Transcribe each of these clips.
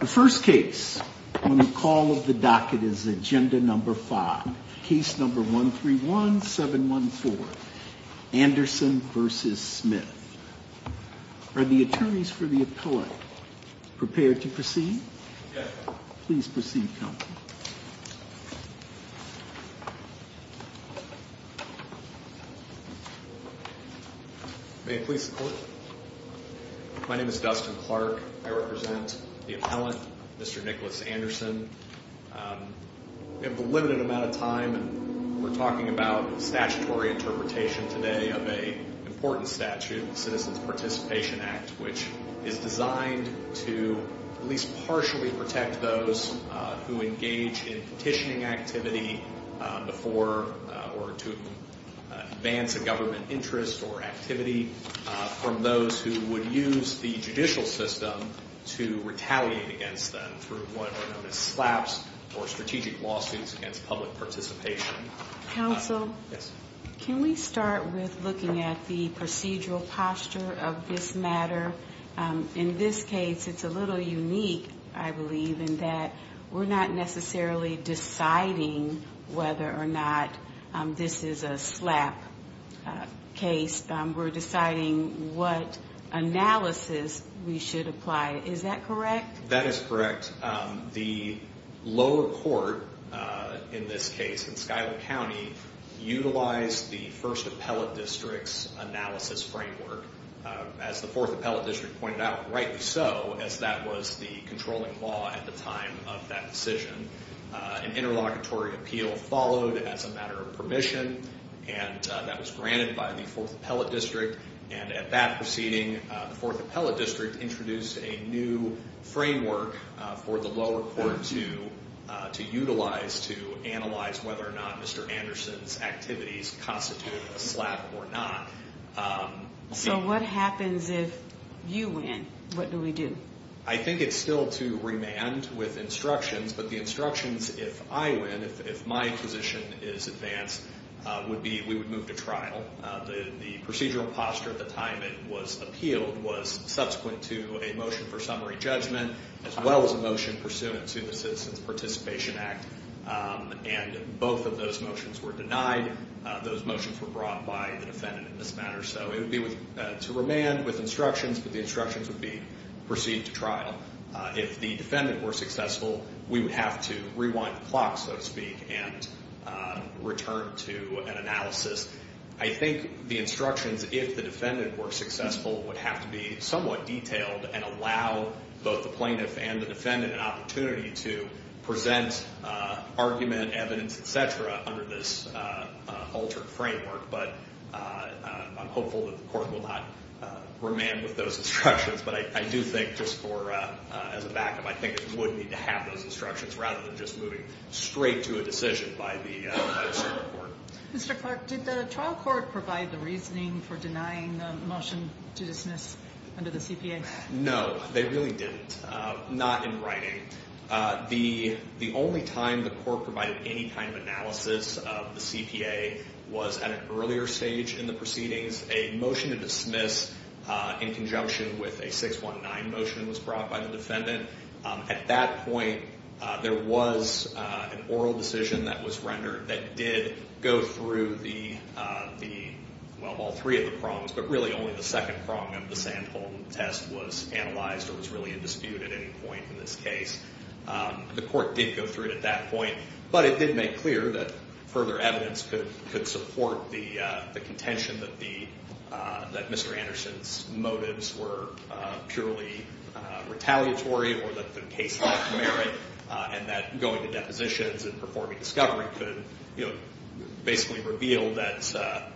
The first case on the call of the docket is Agenda No. 5, Case No. 131714, Anderson v. Smith. Are the attorneys for the appellate prepared to proceed? Yes, Your Honor. Please proceed, counsel. May it please the Court? My name is Dustin Clark. I represent the appellant, Mr. Nicholas Anderson. We have a limited amount of time, and we're talking about statutory interpretation today of an important statute, the Citizens Participation Act, which is designed to at least partially protect those who engage in petitioning activity before or to advance a government interest or activity from those who would use the judicial system to retaliate against them through what are known as SLAPs, or Strategic Lawsuits Against Public Participation. Counsel? Yes? Can we start with looking at the procedural posture of this matter? In this case, it's a little unique, I believe, in that we're not necessarily deciding whether or not this is a SLAP case. We're deciding what analysis we should apply. Is that correct? That is correct. The lower court in this case, in Skylar County, utilized the 1st Appellate District's analysis framework. As the 4th Appellate District pointed out, rightly so, as that was the controlling law at the time of that decision. An interlocutory appeal followed as a matter of permission, and that was granted by the 4th Appellate District. And at that proceeding, the 4th Appellate District introduced a new framework for the lower court to utilize to analyze whether or not Mr. Anderson's activities constituted a SLAP or not. So what happens if you win? What do we do? I think it's still to remand with instructions, but the instructions, if I win, if my position is advanced, would be we would move to trial. The procedural posture at the time it was appealed was subsequent to a motion for summary judgment, as well as a motion pursuant to the Citizens Participation Act. And both of those motions were denied. Those motions were brought by the defendant in this matter. So it would be to remand with instructions, but the instructions would be proceed to trial. If the defendant were successful, we would have to rewind the clock, so to speak, and return to an analysis. I think the instructions, if the defendant were successful, would have to be somewhat detailed and allow both the plaintiff and the defendant an opportunity to present argument, evidence, etc., under this altered framework. But I'm hopeful that the court will not remand with those instructions. But I do think just for as a backup, I think it would need to have those instructions rather than just moving straight to a decision by the Supreme Court. Mr. Clark, did the trial court provide the reasoning for denying the motion to dismiss under the CPA? No, they really didn't. Not in writing. The only time the court provided any kind of analysis of the CPA was at an earlier stage in the proceedings. A motion to dismiss in conjunction with a 619 motion was brought by the defendant. At that point, there was an oral decision that was rendered that did go through all three of the prongs, but really only the second prong of the Sandholm test was analyzed or was really in dispute at any point in this case. The court did go through it at that point, but it did make clear that further evidence could support the contention that Mr. Anderson's motives were purely retaliatory or that the case lacked merit, and that going to depositions and performing discovery could basically reveal that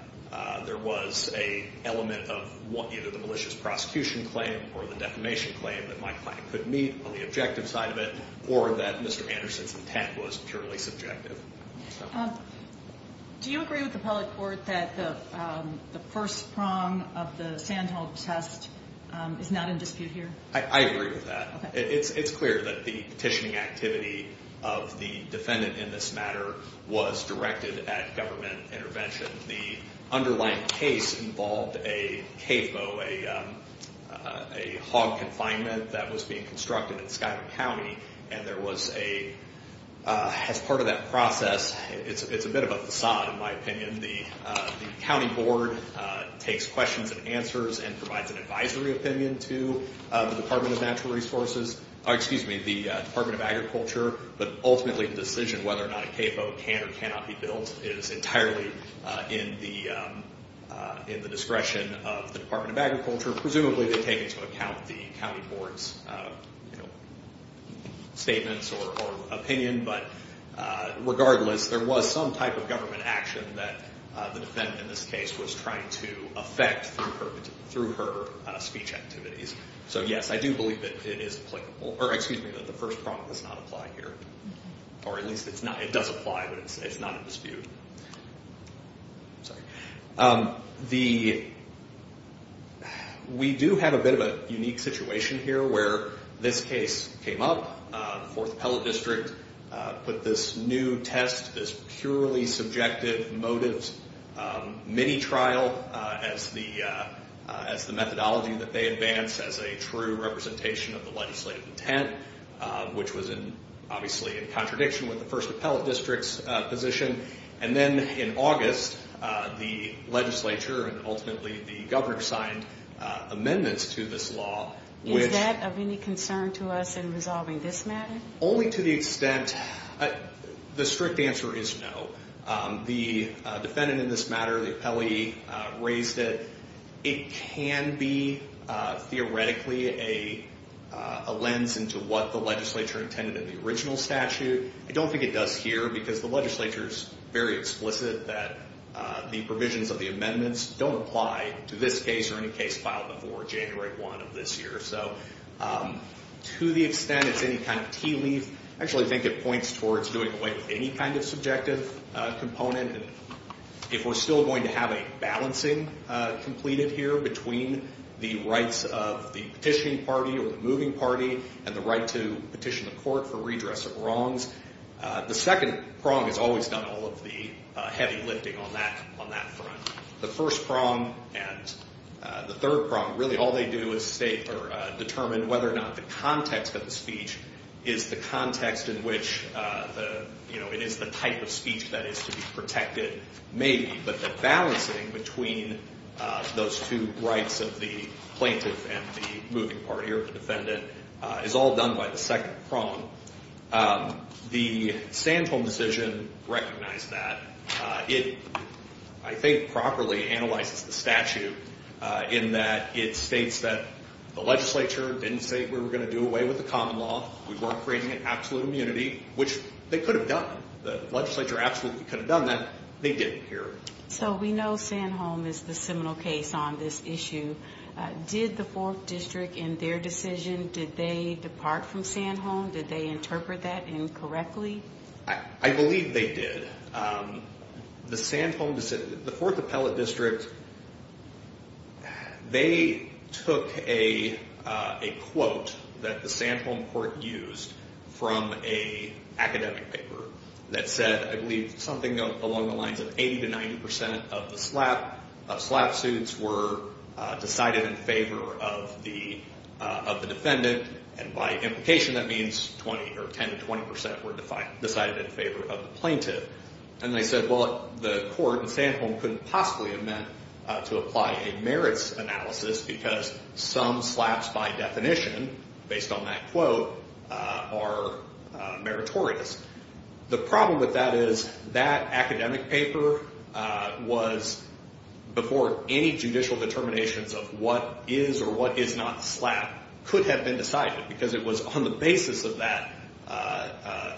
there was an element of either the malicious prosecution claim or the defamation claim that my client could meet on the objective side of it, or that Mr. Anderson's intent was purely subjective. Do you agree with the public court that the first prong of the Sandholm test is not in dispute here? I agree with that. It's clear that the petitioning activity of the defendant in this matter was directed at government intervention. The underlying case involved a CAFO, a hog confinement that was being constructed in Skylar County, and there was a... As part of that process, it's a bit of a facade in my opinion, the county board takes questions and answers and provides an advisory opinion to the Department of Natural Resources... Excuse me, the Department of Agriculture, but ultimately the decision whether or not a CAFO can or cannot be built is entirely in the discretion of the Department of Agriculture. Presumably, they take into account the county board's statements or opinion, but regardless, there was some type of government action that the defendant in this case was trying to affect through her speech activities. So yes, I do believe that it is applicable, or excuse me, that the first prong does not apply here, or at least it does apply, but it's not in dispute. We do have a bit of a unique situation here where this case came up, the 4th Appellate District put this new test, this purely subjective motives mini-trial as the methodology that they advance as a true representation of the legislative intent, which was obviously in contradiction with the 1st Appellate District's position, and then in August, the legislature and ultimately the governor signed amendments to this law, which... Is that of any concern to us in resolving this matter? Only to the extent, the strict answer is no. The defendant in this matter, the appellee raised it. It can be theoretically a lens into what the legislature intended in the original statute. I don't think it does here because the legislature's very explicit that the provisions of the amendments don't apply to this case or any case filed before January 1 of this year. So to the extent it's any kind of tea leaf, I actually think it points towards doing away with any kind of subjective component. If we're still going to have a balancing completed here between the rights of the petitioning party or the moving party and the right to petition the court for redress of wrongs, the second prong has always done all of the heavy lifting on that front. The first prong and the third prong, really all they do is determine whether or not the context of the speech is the context in which it is the type of speech that is to be protected, maybe. But the balancing between those two rights of the plaintiff and the moving party or the defendant is all done by the second prong. The Sandholm decision recognized that. It, I think, properly analyzes the statute in that it states that the legislature didn't say we were going to do away with the common law. We weren't creating an absolute immunity, which they could have done. The legislature absolutely could have done that. They didn't here. So we know Sandholm is the seminal case on this issue. Did the Fourth District in their decision, did they depart from Sandholm? Did they interpret that incorrectly? I believe they did. The Sandholm, the Fourth Appellate District, they took a quote that the Sandholm court used from an academic paper that said, I believe, something along the lines of 80 to 90 percent of the slap suits were decided in favor of the defendant. And by implication, that means 20 or 10 to 20 percent were decided in favor of the plaintiff. And they said, well, the court in Sandholm couldn't possibly have meant to apply a merits analysis because some slaps by definition, based on that quote, are meritorious. The problem with that is that academic paper was before any judicial determinations of what is or what is not slap could have been decided because it was on the basis of that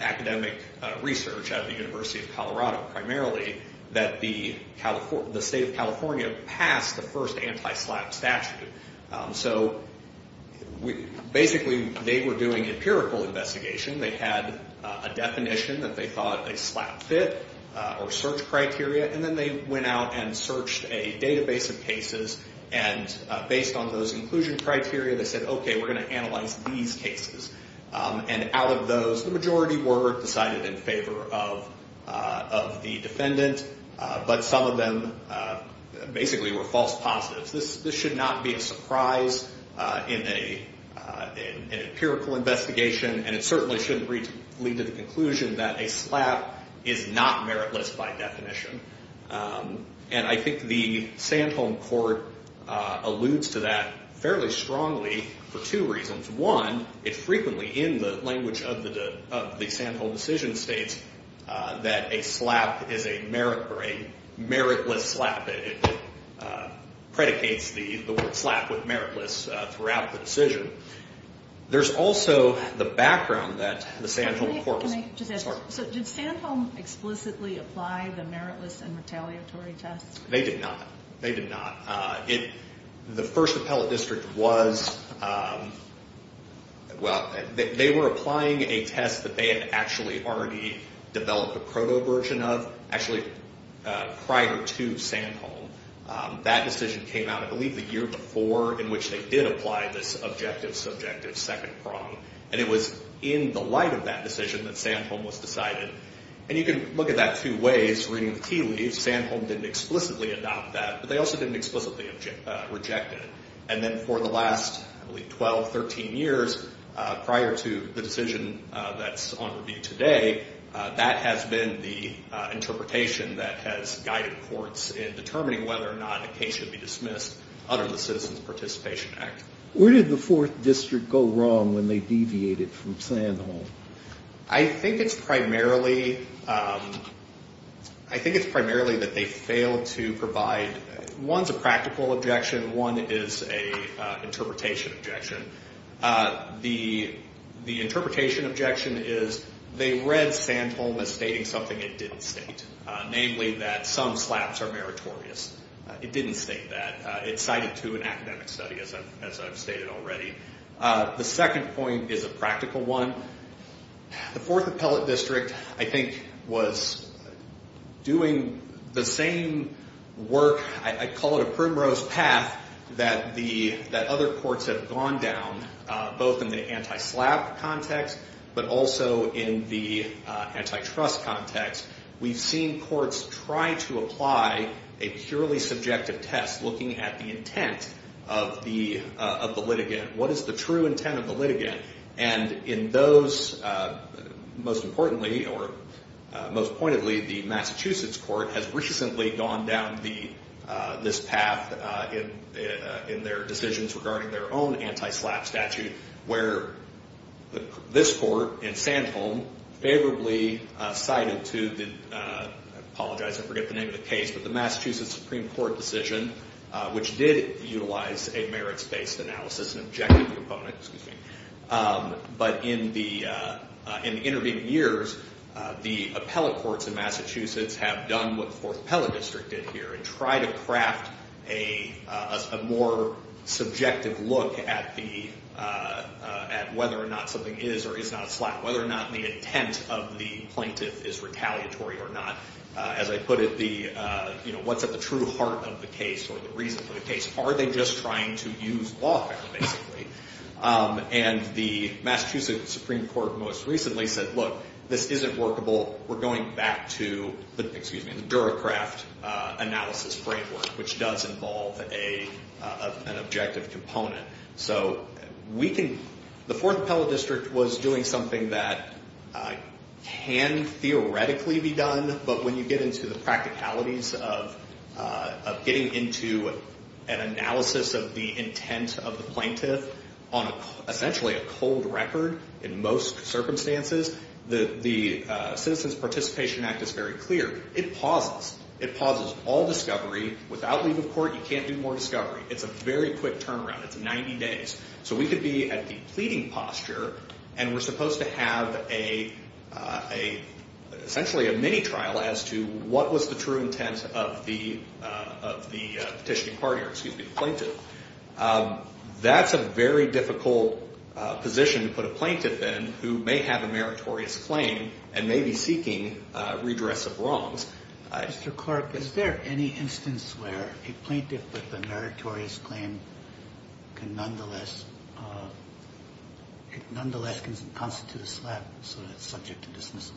academic research at the University of Colorado, primarily, that the state of California passed the first anti-slap statute. So basically, they were doing empirical investigation. They had a definition that they thought a slap fit or search criteria. And then they went out and searched a database of cases. And based on those inclusion criteria, they said, OK, we're going to analyze these cases. And out of those, the majority were decided in favor of the defendant. But some of them basically were false positives. This should not be a surprise in an empirical investigation. And it certainly shouldn't lead to the conclusion that a slap is not meritless by definition. And I think the Sandholm court alludes to that fairly strongly for two reasons. One, it frequently, in the language of the Sandholm decision, states that a slap is a merit or a meritless slap. It predicates the word slap with meritless throughout the decision. There's also the background that the Sandholm court— Can I just ask? Sorry. So did Sandholm explicitly apply the meritless and retaliatory test? They did not. They did not. The first appellate district was— Well, they were applying a test that they had actually already developed a proto version of, actually prior to Sandholm. That decision came out, I believe, the year before, in which they did apply this objective-subjective second prong. And it was in the light of that decision that Sandholm was decided. And you can look at that two ways, reading the tea leaves. Sandholm didn't explicitly adopt that. But they also didn't explicitly reject it. And then for the last, I believe, 12, 13 years, prior to the decision that's on review today, that has been the interpretation that has guided courts in determining whether or not a case should be dismissed under the Citizens Participation Act. Where did the fourth district go wrong when they deviated from Sandholm? I think it's primarily—I think it's primarily that they failed to provide—one's a practical objection. One is an interpretation objection. The interpretation objection is they read Sandholm as stating something it didn't state, namely that some slaps are meritorious. It didn't state that. It cited, too, an academic study, as I've stated already. The second point is a practical one. The fourth appellate district, I think, was doing the same work—I call it a primrose path—that other courts have gone down, both in the anti-slap context but also in the anti-trust context. We've seen courts try to apply a purely subjective test looking at the intent of the litigant. What is the true intent of the litigant? And in those, most importantly or most pointedly, the Massachusetts court has recently gone down this path in their decisions regarding their own anti-slap statute, where this court in Sandholm favorably cited to—apologize, I forget the name of the case— the Massachusetts Supreme Court decision, which did utilize a merits-based analysis, an objective component. But in the intervening years, the appellate courts in Massachusetts have done what the fourth appellate district did here and tried to craft a more subjective look at whether or not something is or is not a slap, whether or not the intent of the plaintiff is retaliatory or not. As I put it, what's at the true heart of the case or the reason for the case? Are they just trying to use lawfare, basically? And the Massachusetts Supreme Court most recently said, look, this isn't workable. We're going back to the—excuse me—the DuraCraft analysis framework, which does involve an objective component. So we can—the fourth appellate district was doing something that can theoretically be done, but when you get into the practicalities of getting into an analysis of the intent of the plaintiff on essentially a cold record, in most circumstances, the Citizens Participation Act is very clear. It pauses. It pauses all discovery. Without leave of court, you can't do more discovery. It's a very quick turnaround. It's 90 days. So we could be at the pleading posture, and we're supposed to have essentially a mini-trial as to what was the true intent of the petitioning partner— excuse me, the plaintiff. That's a very difficult position to put a plaintiff in who may have a meritorious claim and may be seeking redress of wrongs. Mr. Clark, is there any instance where a plaintiff with a meritorious claim can nonetheless constitute a slap so that it's subject to dismissal?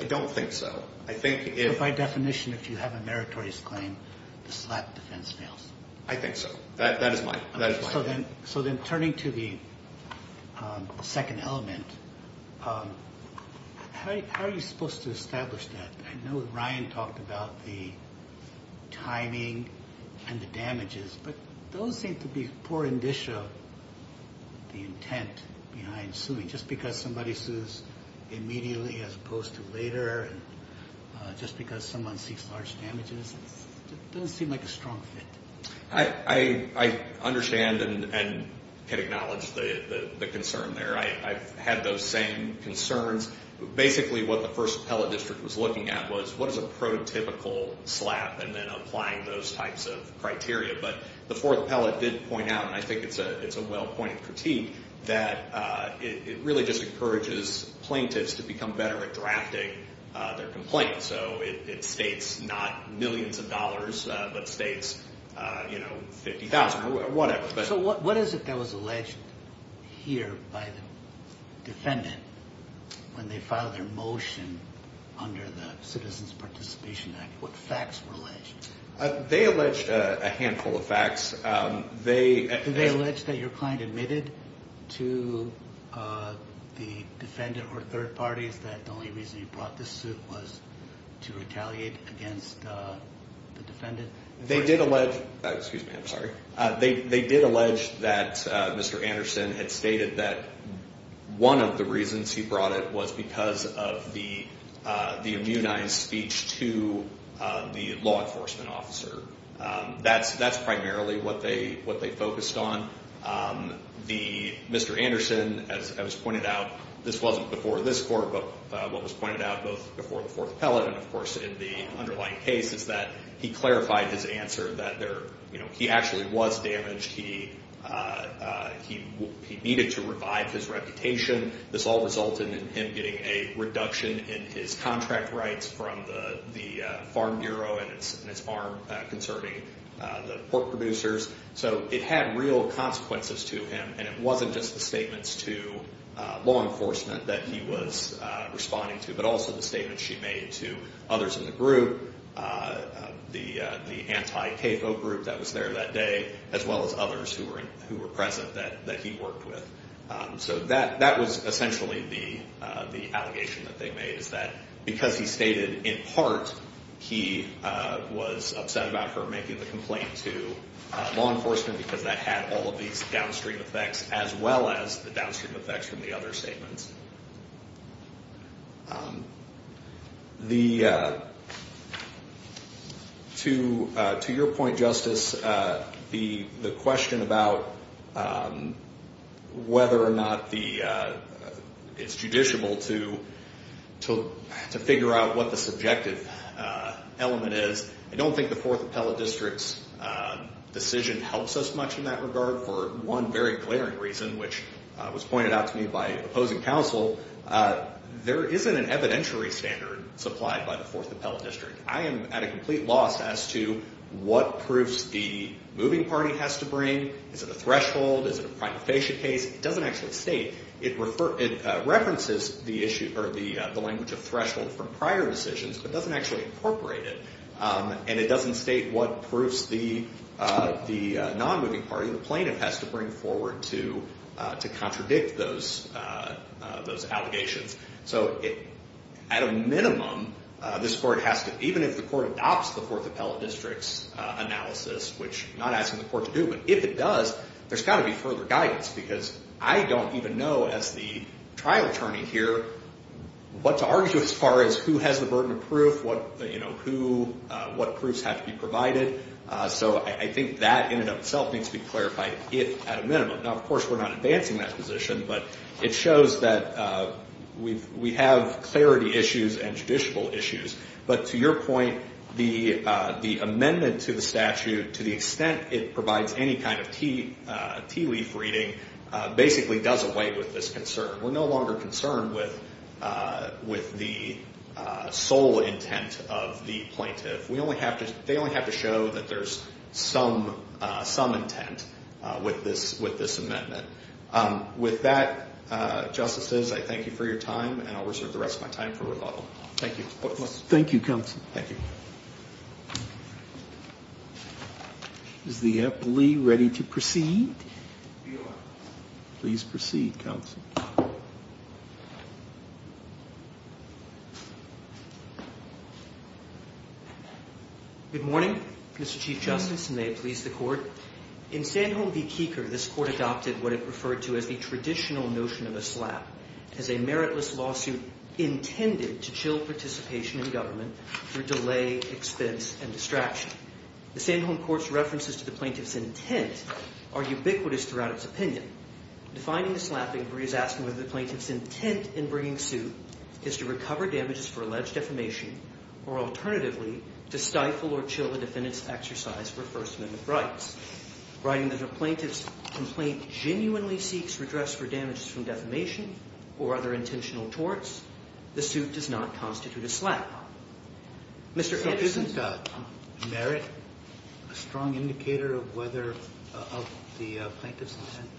I don't think so. I think if— By definition, if you have a meritorious claim, the slap defense fails. I think so. That is my— So then turning to the second element, how are you supposed to establish that? I know Ryan talked about the timing and the damages, but those seem to be poor indicia of the intent behind suing. Just because somebody sues immediately as opposed to later, just because someone seeks large damages, it doesn't seem like a strong fit. I understand and can acknowledge the concern there. I've had those same concerns. Basically what the first appellate district was looking at was what is a prototypical slap and then applying those types of criteria. But the fourth appellate did point out, and I think it's a well-pointed critique, that it really just encourages plaintiffs to become better at drafting their complaint. So it states not millions of dollars, but states $50,000 or whatever. So what is it that was alleged here by the defendant when they filed their motion under the Citizens Participation Act? What facts were alleged? They alleged a handful of facts. Did they allege that your client admitted to the defendant or third parties that the only reason you brought this suit was to retaliate against the defendant? They did allege that Mr. Anderson had stated that one of the reasons he brought it was because of the immunized speech to the law enforcement officer. That's primarily what they focused on. Mr. Anderson, as was pointed out, this wasn't before this court, but what was pointed out both before the fourth appellate and, of course, in the underlying case, is that he clarified his answer that he actually was damaged. He needed to revive his reputation. This all resulted in him getting a reduction in his contract rights from the Farm Bureau and its arm concerning the pork producers. So it had real consequences to him, and it wasn't just the statements to law enforcement that he was responding to, but also the statements she made to others in the group, the anti-CAPO group that was there that day, as well as others who were present that he worked with. So that was essentially the allegation that they made, is that because he stated, in part, he was upset about her making the complaint to law enforcement because that had all of these downstream effects, as well as the downstream effects from the other statements. To your point, Justice, the question about whether or not it's judiciable to figure out what the subjective element is, I don't think the fourth appellate district's decision helps us much in that regard for one very glaring reason, which was pointed out to me by opposing counsel, there isn't an evidentiary standard supplied by the fourth appellate district. I am at a complete loss as to what proofs the moving party has to bring. Is it a threshold? Is it a prima facie case? It doesn't actually state. It references the language of threshold from prior decisions, but doesn't actually incorporate it, and it doesn't state what proofs the non-moving party, the plaintiff, has to bring forward to contradict those allegations. So at a minimum, this court has to, even if the court adopts the fourth appellate district's analysis, which I'm not asking the court to do, but if it does, there's got to be further guidance, because I don't even know, as the trial attorney here, what to argue to as far as who has the burden of proof, what proofs have to be provided. So I think that in and of itself needs to be clarified at a minimum. Now, of course, we're not advancing that position, but it shows that we have clarity issues and judicial issues. But to your point, the amendment to the statute, to the extent it provides any kind of tea leaf reading, basically does away with this concern. We're no longer concerned with the sole intent of the plaintiff. They only have to show that there's some intent with this amendment. With that, Justices, I thank you for your time, and I'll reserve the rest of my time for rebuttal. Thank you. Thank you, Counsel. Thank you. Is the appellee ready to proceed? Please proceed, Counsel. Good morning, Mr. Chief Justice, and may it please the Court. In Sandholm v. Keeker, this Court adopted what it referred to as the traditional notion of a slap, as a meritless lawsuit intended to chill participation in government through delay, expense, and distraction. The Sandholm Court's references to the plaintiff's intent are ubiquitous throughout its opinion. Defining the slap inquiry is asking whether the plaintiff's intent in bringing suit is to recover damages for alleged defamation or, alternatively, to stifle or chill the defendant's exercise for First Amendment rights. Writing that a plaintiff's complaint genuinely seeks redress for damages from defamation or other intentional torts, the suit does not constitute a slap. Isn't merit a strong indicator of the plaintiff's intent?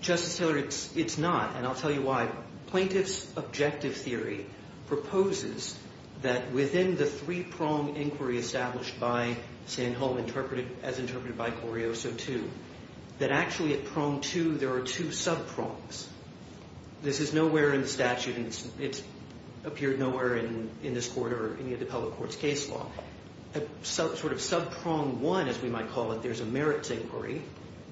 Justice Taylor, it's not, and I'll tell you why. Plaintiff's objective theory proposes that within the three-prong inquiry established by Sandholm, as interpreted by Corioso too, that actually at prong two, there are two sub-prongs. This is nowhere in the statute, and it's appeared nowhere in this Court or any of the public court's case law. At sort of sub-prong one, as we might call it, there's a merits inquiry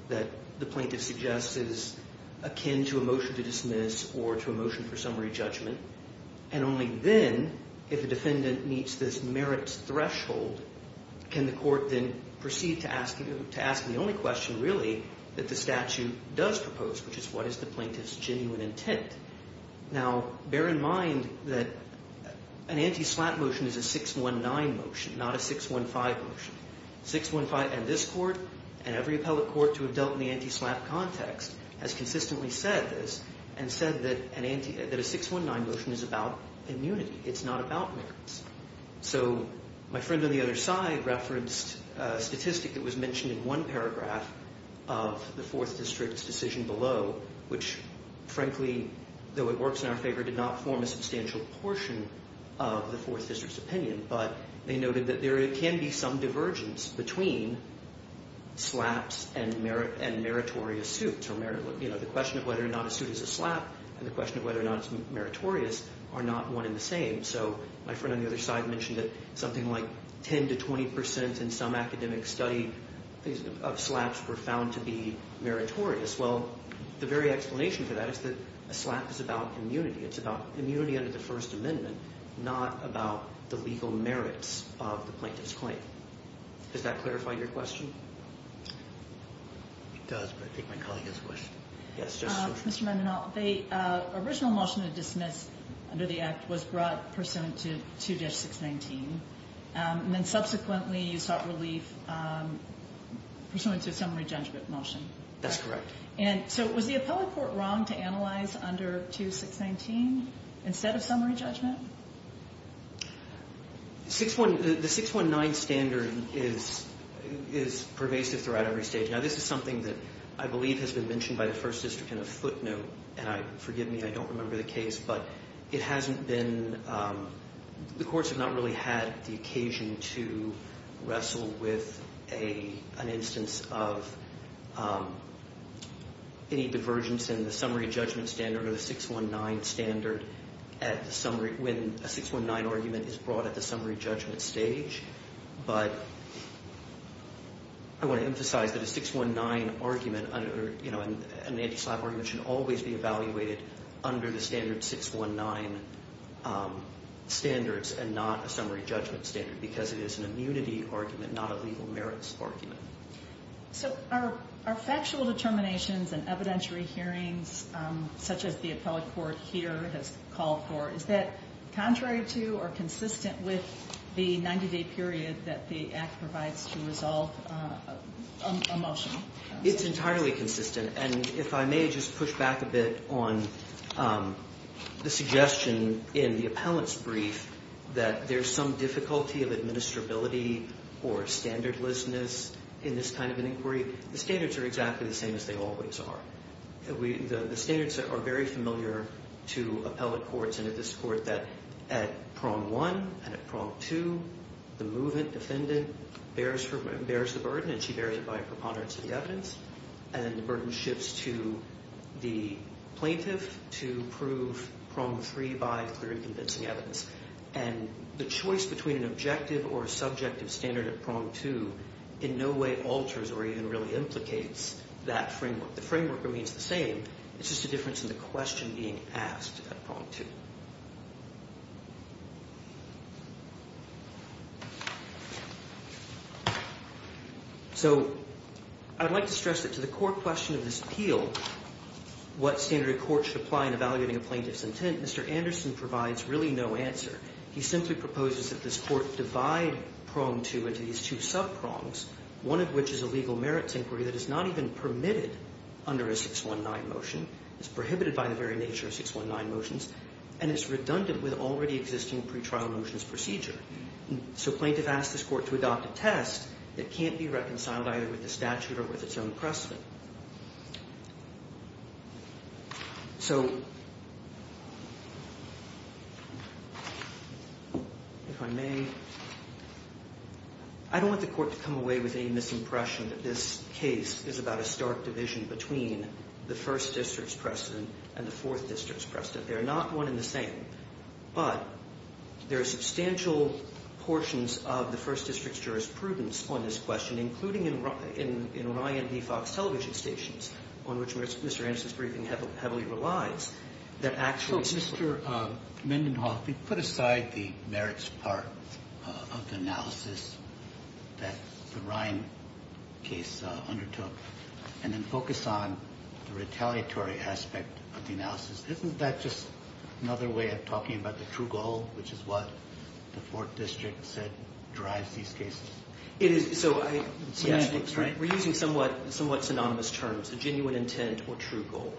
that the plaintiff suggests is akin to a motion to dismiss or to a motion for summary judgment, and only then, if a defendant meets this merits threshold, can the Court then proceed to ask the only question, really, that the statute does propose, which is what is the plaintiff's genuine intent? Now, bear in mind that an anti-slap motion is a 619 motion, not a 615 motion. 615 in this Court and every appellate court to have dealt in the anti-slap context has consistently said this and said that a 619 motion is about immunity. It's not about merits. So my friend on the other side referenced a statistic that was mentioned in one paragraph of the Fourth District's decision below, which, frankly, though it works in our favor, did not form a substantial portion of the Fourth District's opinion. But they noted that there can be some divergence between slaps and meritorious suits. You know, the question of whether or not a suit is a slap and the question of whether or not it's meritorious are not one and the same. So my friend on the other side mentioned that something like 10 to 20 percent in some academic study of slaps were found to be meritorious. Well, the very explanation for that is that a slap is about immunity. It's about immunity under the First Amendment, not about the legal merits of the plaintiff's claim. Does that clarify your question? It does, but I think my colleague has a question. Mr. Mendenhall, the original motion to dismiss under the Act was brought pursuant to 2-619, and then subsequently you sought relief pursuant to a summary judgment motion. That's correct. And so was the appellate court wrong to analyze under 2-619 instead of summary judgment? The 619 standard is pervasive throughout every stage. Now, this is something that I believe has been mentioned by the First District in a footnote, and forgive me, I don't remember the case. But it hasn't been – the courts have not really had the occasion to wrestle with an instance of any divergence in the summary judgment standard or the 619 standard when a 619 argument is brought at the summary judgment stage. But I want to emphasize that a 619 argument, an anti-slap argument, should always be evaluated under the standard 619 standards and not a summary judgment standard because it is an immunity argument, not a legal merits argument. So are factual determinations and evidentiary hearings, such as the appellate court here has called for, is that contrary to or consistent with the 90-day period that the Act provides to resolve a motion? It's entirely consistent. And if I may just push back a bit on the suggestion in the appellate's brief that there's some difficulty of administrability or standardlessness in this kind of an inquiry, the standards are exactly the same as they always are. The standards are very familiar to appellate courts and to this court that at prong one and at prong two, the movement defendant bears the burden, and she bears it by preponderance of the evidence, and the burden shifts to the plaintiff to prove prong three by clear and convincing evidence. And the choice between an objective or a subjective standard at prong two in no way alters or even really implicates that framework. The framework remains the same. It's just a difference in the question being asked at prong two. So I'd like to stress that to the core question of this appeal, what standard of court should apply in evaluating a plaintiff's intent, Mr. Anderson provides really no answer. He simply proposes that this court divide prong two into these two sub-prongs, one of which is a legal merits inquiry that is not even permitted under a 619 motion. It's prohibited by the very nature of 619 motions, and it's redundant with already existing pretrial motions procedure. So plaintiff asks this court to adopt a test that can't be reconciled either with the statute or with its own precedent. So if I may, I don't want the court to come away with any misimpression that this case is about a stark division between the First District's precedent and the Fourth District's precedent. They're not one and the same. But there are substantial portions of the First District's jurisprudence on this question, including in Ryan v. Fox television stations, on which Mr. Anderson's briefing heavily relies, that actually support. So Mr. Mendenhoff, you put aside the merits part of the analysis that the Ryan case undertook, and then focus on the retaliatory aspect of the analysis. Isn't that just another way of talking about the true goal, which is what the Fourth District said drives these cases? We're using somewhat synonymous terms, the genuine intent or true goal.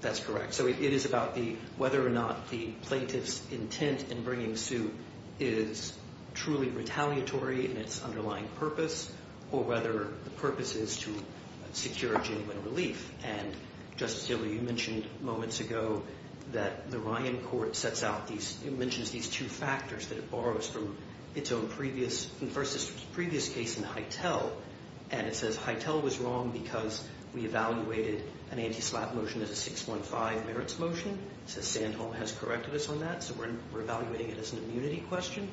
That's correct. So it is about whether or not the plaintiff's intent in bringing suit is truly retaliatory in its underlying purpose, or whether the purpose is to secure a genuine relief. And, Justice Gilley, you mentioned moments ago that the Ryan court sets out these, it mentions these two factors that it borrows from its own previous, from the First District's previous case in Hytel. And it says Hytel was wrong because we evaluated an anti-slap motion as a 615 merits motion. It says Sandholm has corrected us on that, so we're evaluating it as an immunity question.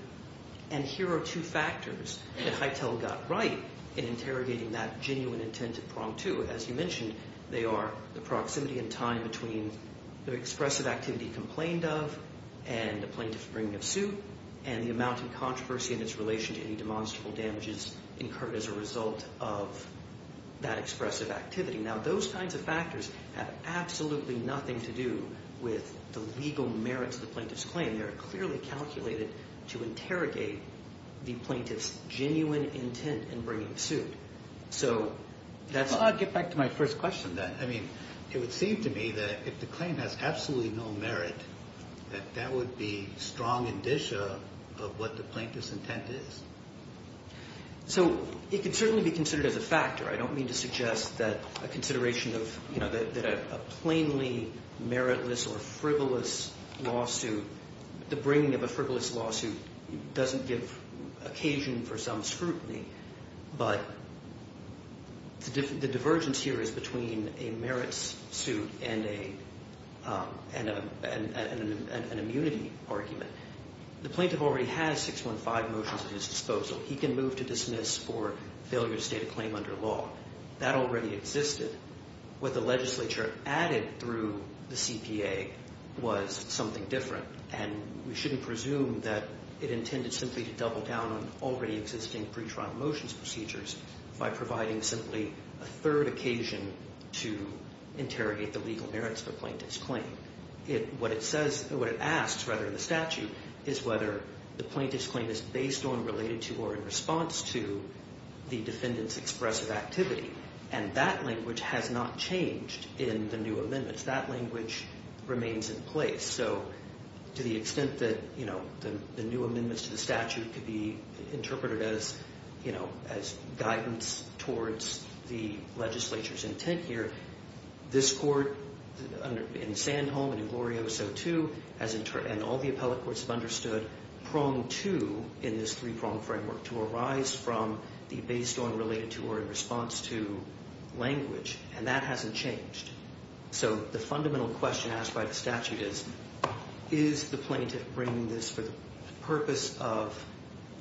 And here are two factors that Hytel got right in interrogating that genuine intent at prong two. As you mentioned, they are the proximity in time between the expressive activity complained of and the plaintiff's bringing of suit, and the amount of controversy in its relation to any demonstrable damages incurred as a result of that expressive activity. Now, those kinds of factors have absolutely nothing to do with the legal merits of the plaintiff's claim. They are clearly calculated to interrogate the plaintiff's genuine intent in bringing suit. Well, I'll get back to my first question then. I mean, it would seem to me that if the claim has absolutely no merit, that that would be strong indicia of what the plaintiff's intent is. So it could certainly be considered as a factor. I don't mean to suggest that a consideration of, you know, that a plainly meritless or frivolous lawsuit, the bringing of a frivolous lawsuit doesn't give occasion for some scrutiny. But the divergence here is between a merits suit and an immunity argument. The plaintiff already has 615 motions at his disposal. He can move to dismiss or failure to state a claim under law. That already existed. What the legislature added through the CPA was something different, and we shouldn't presume that it intended simply to double down on already existing pretrial motions procedures by providing simply a third occasion to interrogate the legal merits of the plaintiff's claim. What it says, what it asks, rather, in the statute, is whether the plaintiff's claim is based on, related to, or in response to the defendant's expressive activity. And that language has not changed in the new amendments. That language remains in place. So to the extent that, you know, the new amendments to the statute could be interpreted as, you know, as guidance towards the legislature's intent here, this Court, in Sandholm and in Glorioso too, and all the appellate courts have understood, pronged to, in this three-prong framework, to arise from the based on, related to, or in response to language. And that hasn't changed. So the fundamental question asked by the statute is, is the plaintiff bringing this for the purpose of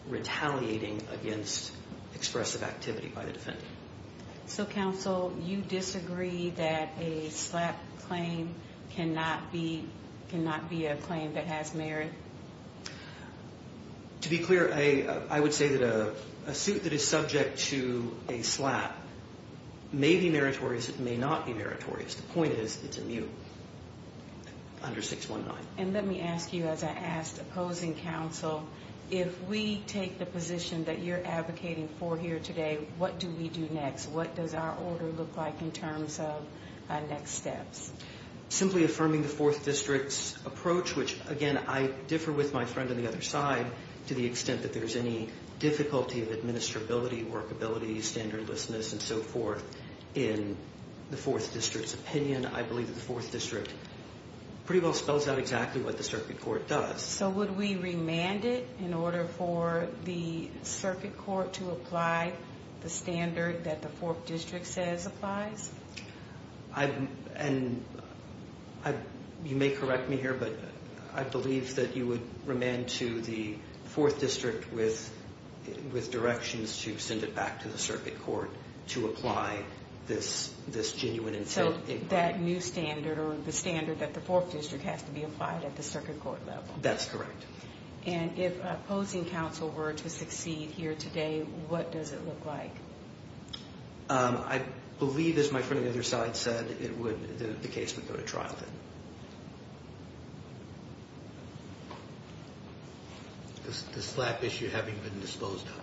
retaliating against expressive activity by the defendant? So, counsel, you disagree that a SLAP claim cannot be a claim that has merit? To be clear, I would say that a suit that is subject to a SLAP may be meritorious. It may not be meritorious. The point is it's immune under 619. And let me ask you, as I asked opposing counsel, if we take the position that you're advocating for here today, what do we do next? What does our order look like in terms of next steps? Simply affirming the 4th District's approach, which, again, I differ with my friend on the other side, to the extent that there's any difficulty of administrability, workability, standardlessness, and so forth, in the 4th District's opinion. I believe that the 4th District pretty well spells out exactly what the circuit court does. So would we remand it in order for the circuit court to apply the standard that the 4th District says applies? And you may correct me here, but I believe that you would remand to the 4th District with directions to send it back to the circuit court to apply this genuine incentive. So that new standard, or the standard that the 4th District has to be applied at the circuit court level. That's correct. And if opposing counsel were to succeed here today, what does it look like? I believe, as my friend on the other side said, the case would go to trial then. The slap issue having been disposed of.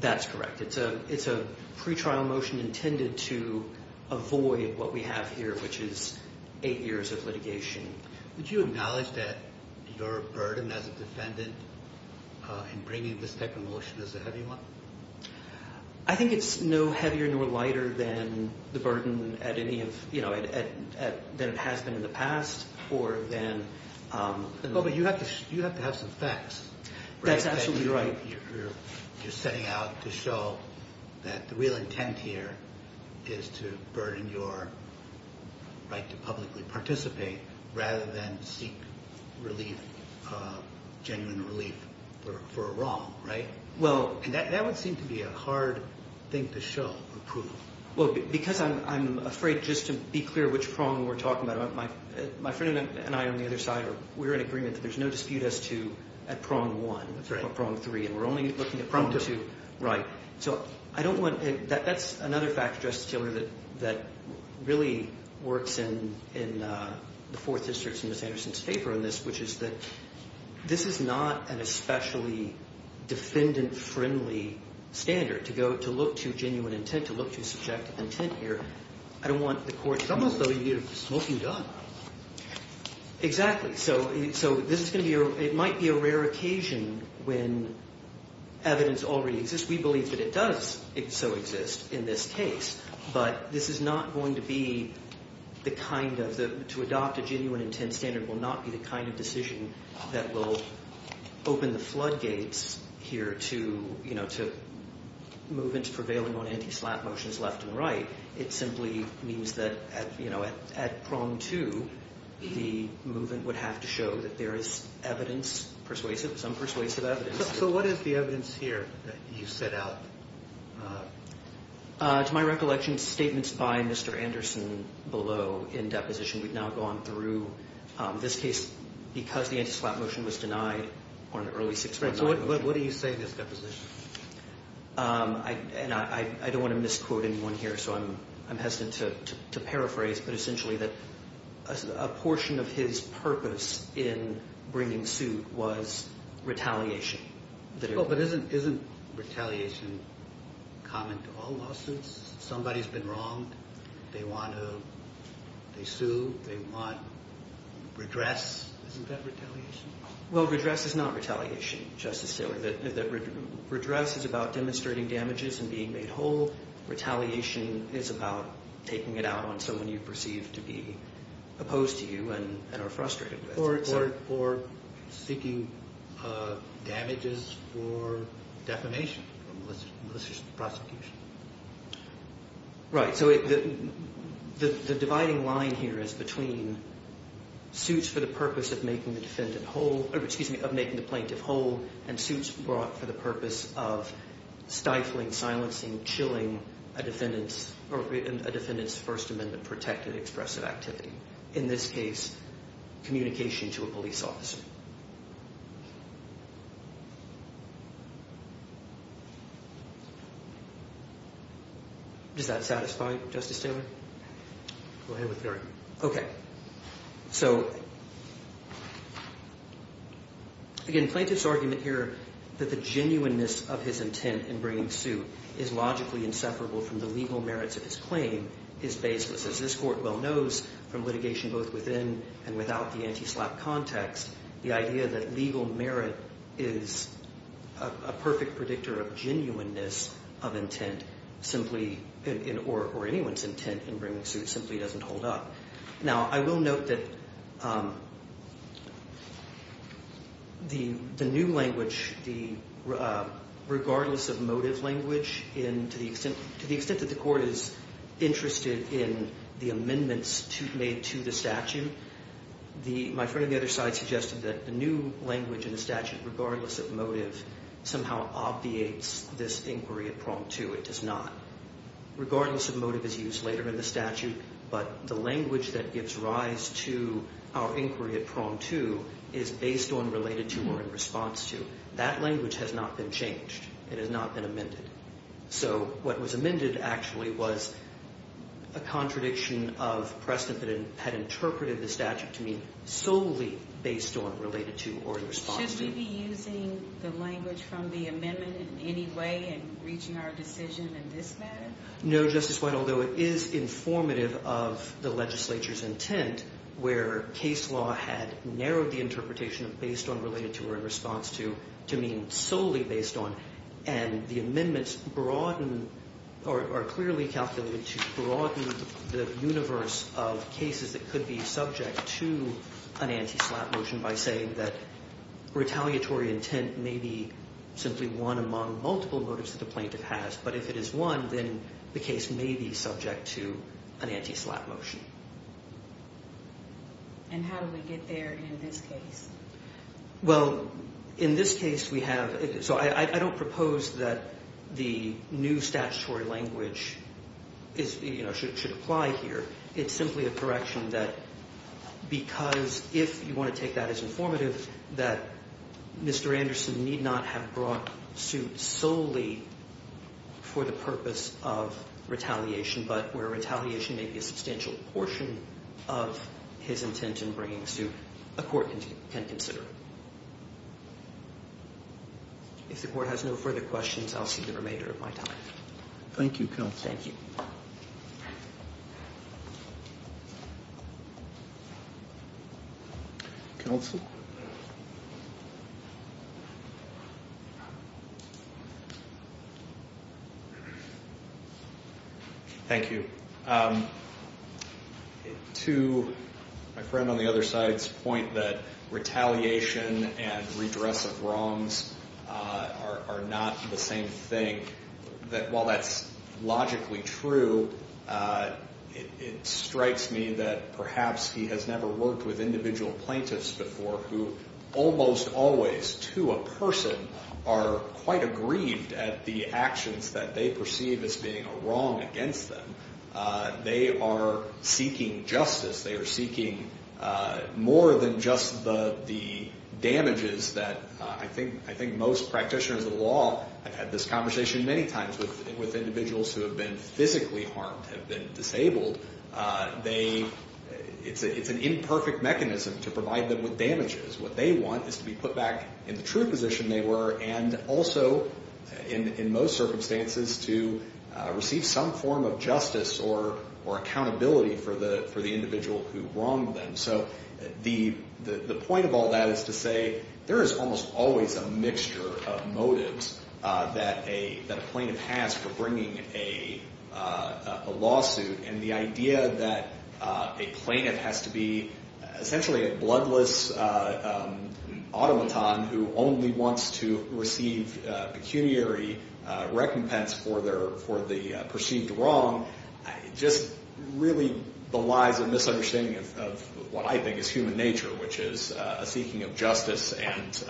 That's correct. It's a pretrial motion intended to avoid what we have here, which is 8 years of litigation. Would you acknowledge that your burden as a defendant in bringing this type of motion is a heavy one? I think it's no heavier nor lighter than the burden than it has been in the past. But you have to have some facts. That's absolutely right. You're setting out to show that the real intent here is to burden your right to publicly participate rather than seek genuine relief for a wrong, right? That would seem to be a hard thing to show, approval. Because I'm afraid, just to be clear, which prong we're talking about. My friend and I on the other side, we're in agreement that there's no dispute at prong one or prong three. And we're only looking at prong two. That's another fact, Justice Taylor, that really works in the 4th District's and Ms. Anderson's favor on this, which is that this is not an especially defendant-friendly standard to look to genuine intent, to look to subjective intent here. I don't want the court... It's almost as though you need a smoking gun. Exactly. So this is going to be... It might be a rare occasion when evidence already exists. We believe that it does so exist in this case. But this is not going to be the kind of... To adopt a genuine intent standard will not be the kind of decision that will open the floodgates here to movements prevailing on anti-slap motions left and right. It simply means that at prong two, the movement would have to show that there is evidence, persuasive, some persuasive evidence. So what is the evidence here that you set out? To my recollection, statements by Mr. Anderson below in deposition. We've now gone through this case because the anti-slap motion was denied on an early 619 motion. What do you say in this deposition? I don't want to misquote anyone here, so I'm hesitant to paraphrase, but essentially that a portion of his purpose in bringing suit was retaliation. But isn't retaliation common to all lawsuits? Somebody's been wronged, they want to sue, they want redress. Isn't that retaliation? Well, redress is not retaliation, Justice Taylor. Redress is about demonstrating damages and being made whole. Retaliation is about taking it out on someone you perceive to be opposed to you and are frustrated with. Or seeking damages for defamation, for malicious prosecution. Right, so the dividing line here is between suits for the purpose of making the plaintiff whole and suits brought for the purpose of stifling, silencing, chilling a defendant's First Amendment-protected expressive activity. In this case, communication to a police officer. Is that satisfying, Justice Taylor? Go ahead with your argument. Okay. So, again, plaintiff's argument here that the genuineness of his intent in bringing suit is logically inseparable from the legal merits of his claim is baseless. As this Court well knows, from litigation both within and without the anti-SLAPP context, the idea that legal merit is a perfect predictor of genuineness of intent, or anyone's intent in bringing suit, simply doesn't hold up. Now, I will note that the new language, regardless of motive language, to the extent that the Court is interested in the amendments made to the statute, my friend on the other side suggested that the new language in the statute, regardless of motive, somehow obviates this inquiry at prong two. It does not. Regardless of motive is used later in the statute, but the language that gives rise to our inquiry at prong two is based on, related to, or in response to. That language has not been changed. It has not been amended. So what was amended actually was a contradiction of precedent that had interpreted the statute to mean solely based on, related to, or in response to. Should we be using the language from the amendment in any way in reaching our decision in this matter? No, Justice White, although it is informative of the legislature's intent, where case law had narrowed the interpretation of based on, related to, or in response to to mean solely based on, and the amendments broaden, or are clearly calculated to broaden the universe of cases that could be subject to an anti-slap motion by saying that retaliatory intent may be simply one among multiple motives that the plaintiff has, but if it is one, then the case may be subject to an anti-slap motion. And how do we get there in this case? Well, in this case we have, so I don't propose that the new statutory language should apply here. It's simply a correction that because if you want to take that as informative, that Mr. Anderson need not have brought suit solely for the purpose of retaliation, but where retaliation may be a substantial portion of his intent in bringing suit, a court can consider. If the court has no further questions, I'll see the remainder of my time. Thank you, counsel. Thank you. Counsel? Thank you. To my friend on the other side's point that retaliation and redress of wrongs are not the same thing, that while that's logically true, it strikes me that perhaps he has never worked with individual plaintiffs before who almost always, to a person, are quite aggrieved at the actions that they perceive as being a wrong against them. They are seeking justice. They are seeking more than just the damages that I think most practitioners of the law have had this conversation many times with individuals who have been physically harmed, have been disabled. It's an imperfect mechanism to provide them with damages. What they want is to be put back in the true position they were, and also, in most circumstances, to receive some form of justice or accountability for the individual who wronged them. So the point of all that is to say there is almost always a mixture of motives that a plaintiff has for bringing a lawsuit, and the idea that a plaintiff has to be essentially a bloodless automaton who only wants to receive pecuniary recompense for the perceived wrong just really belies a misunderstanding of what I think is human nature, which is a seeking of justice and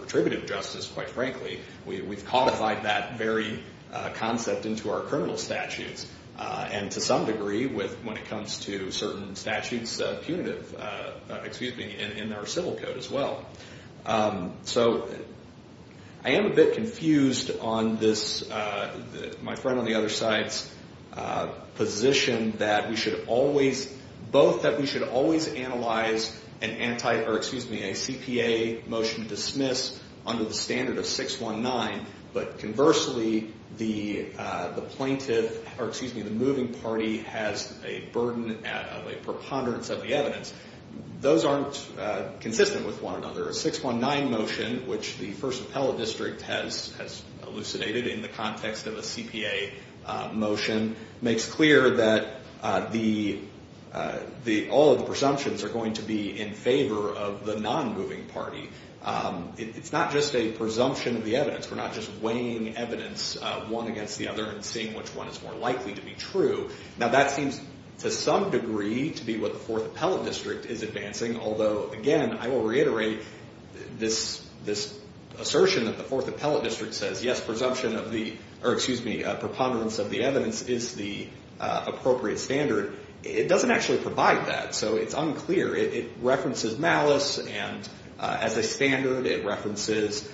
retributive justice, quite frankly. We've codified that very concept into our criminal statutes, and to some degree, when it comes to certain statutes punitive in our civil code as well. So I am a bit confused on this, my friend on the other side's position that we should always, both that we should always analyze an anti, or excuse me, a CPA motion dismiss under the standard of 619, but conversely, the plaintiff, or excuse me, the moving party has a burden of a preponderance of the evidence. Those aren't consistent with one another. A 619 motion, which the First Appellate District has elucidated in the context of a CPA motion, makes clear that all of the presumptions are going to be in favor of the non-moving party. It's not just a presumption of the evidence. We're not just weighing evidence one against the other and seeing which one is more likely to be true. Now that seems to some degree to be what the Fourth Appellate District is advancing, although, again, I will reiterate this assertion that the Fourth Appellate District says, yes, presumption of the, or excuse me, preponderance of the evidence is the appropriate standard. It doesn't actually provide that, so it's unclear. It references malice, and as a standard, it references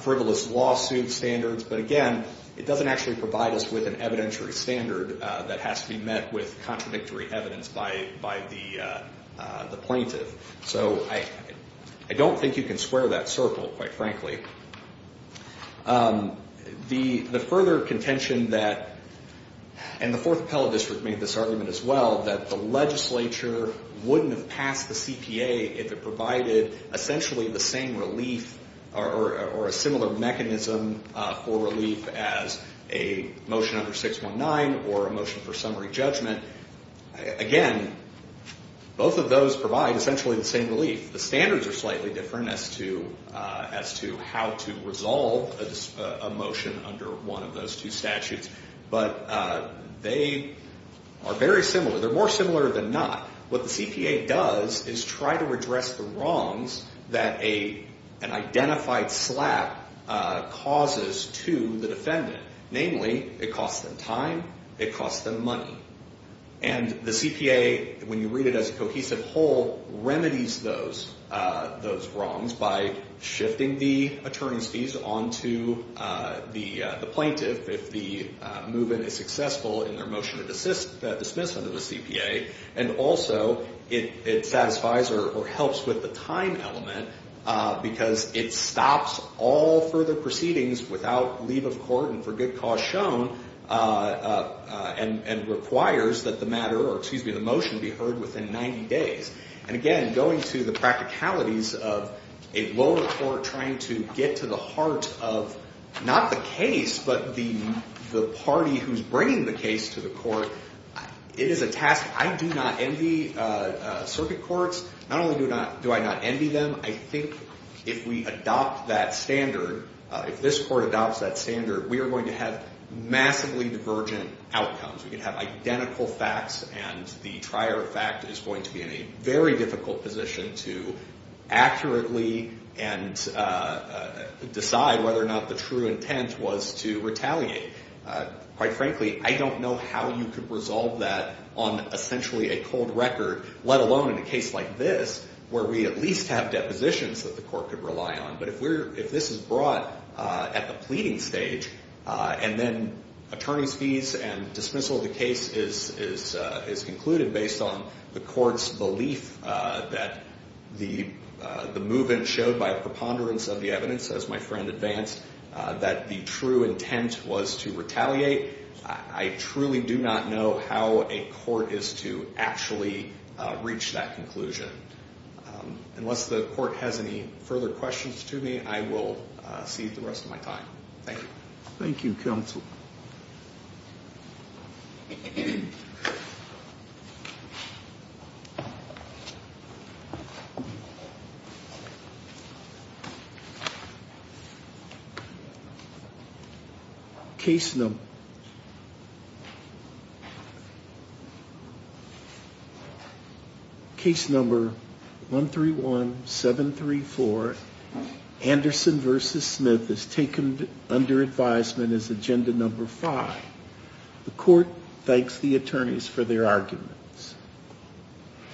frivolous lawsuit standards, but, again, it doesn't actually provide us with an evidentiary standard that has to be met with contradictory evidence by the plaintiff. So I don't think you can square that circle, quite frankly. The further contention that, and the Fourth Appellate District made this argument as well, that the legislature wouldn't have passed the CPA if it provided essentially the same relief or a similar mechanism for relief as a motion under 619 or a motion for summary judgment, again, both of those provide essentially the same relief. The standards are slightly different as to how to resolve a motion under one of those two statutes, but they are very similar. They're more similar than not. What the CPA does is try to address the wrongs that an identified slap causes to the defendant. Namely, it costs them time. It costs them money. And the CPA, when you read it as a cohesive whole, remedies those wrongs by shifting the attorney's fees onto the plaintiff if the move-in is successful in their motion of dismissal to the CPA, and also it satisfies or helps with the time element because it stops all further proceedings without leave of court and for good cause shown and requires that the motion be heard within 90 days. And again, going to the practicalities of a lower court trying to get to the heart of not the case but the party who's bringing the case to the court, it is a task. I do not envy circuit courts. Not only do I not envy them, I think if we adopt that standard, if this court adopts that standard, we are going to have massively divergent outcomes. We're going to have identical facts, and the trier of fact is going to be in a very difficult position to accurately decide whether or not the true intent was to retaliate. Quite frankly, I don't know how you could resolve that on essentially a cold record, let alone in a case like this where we at least have depositions that the court could rely on. But if this is brought at the pleading stage and then attorney's fees and dismissal of the case is concluded based on the court's belief that the movement showed by a preponderance of the evidence, as my friend advanced, that the true intent was to retaliate, I truly do not know how a court is to actually reach that conclusion. Unless the court has any further questions to me, I will cede the rest of my time. Thank you. Thank you, counsel. Case number. Case number 131734. Anderson versus Smith is taken under advisement as agenda number five. The court thanks the attorneys for their arguments.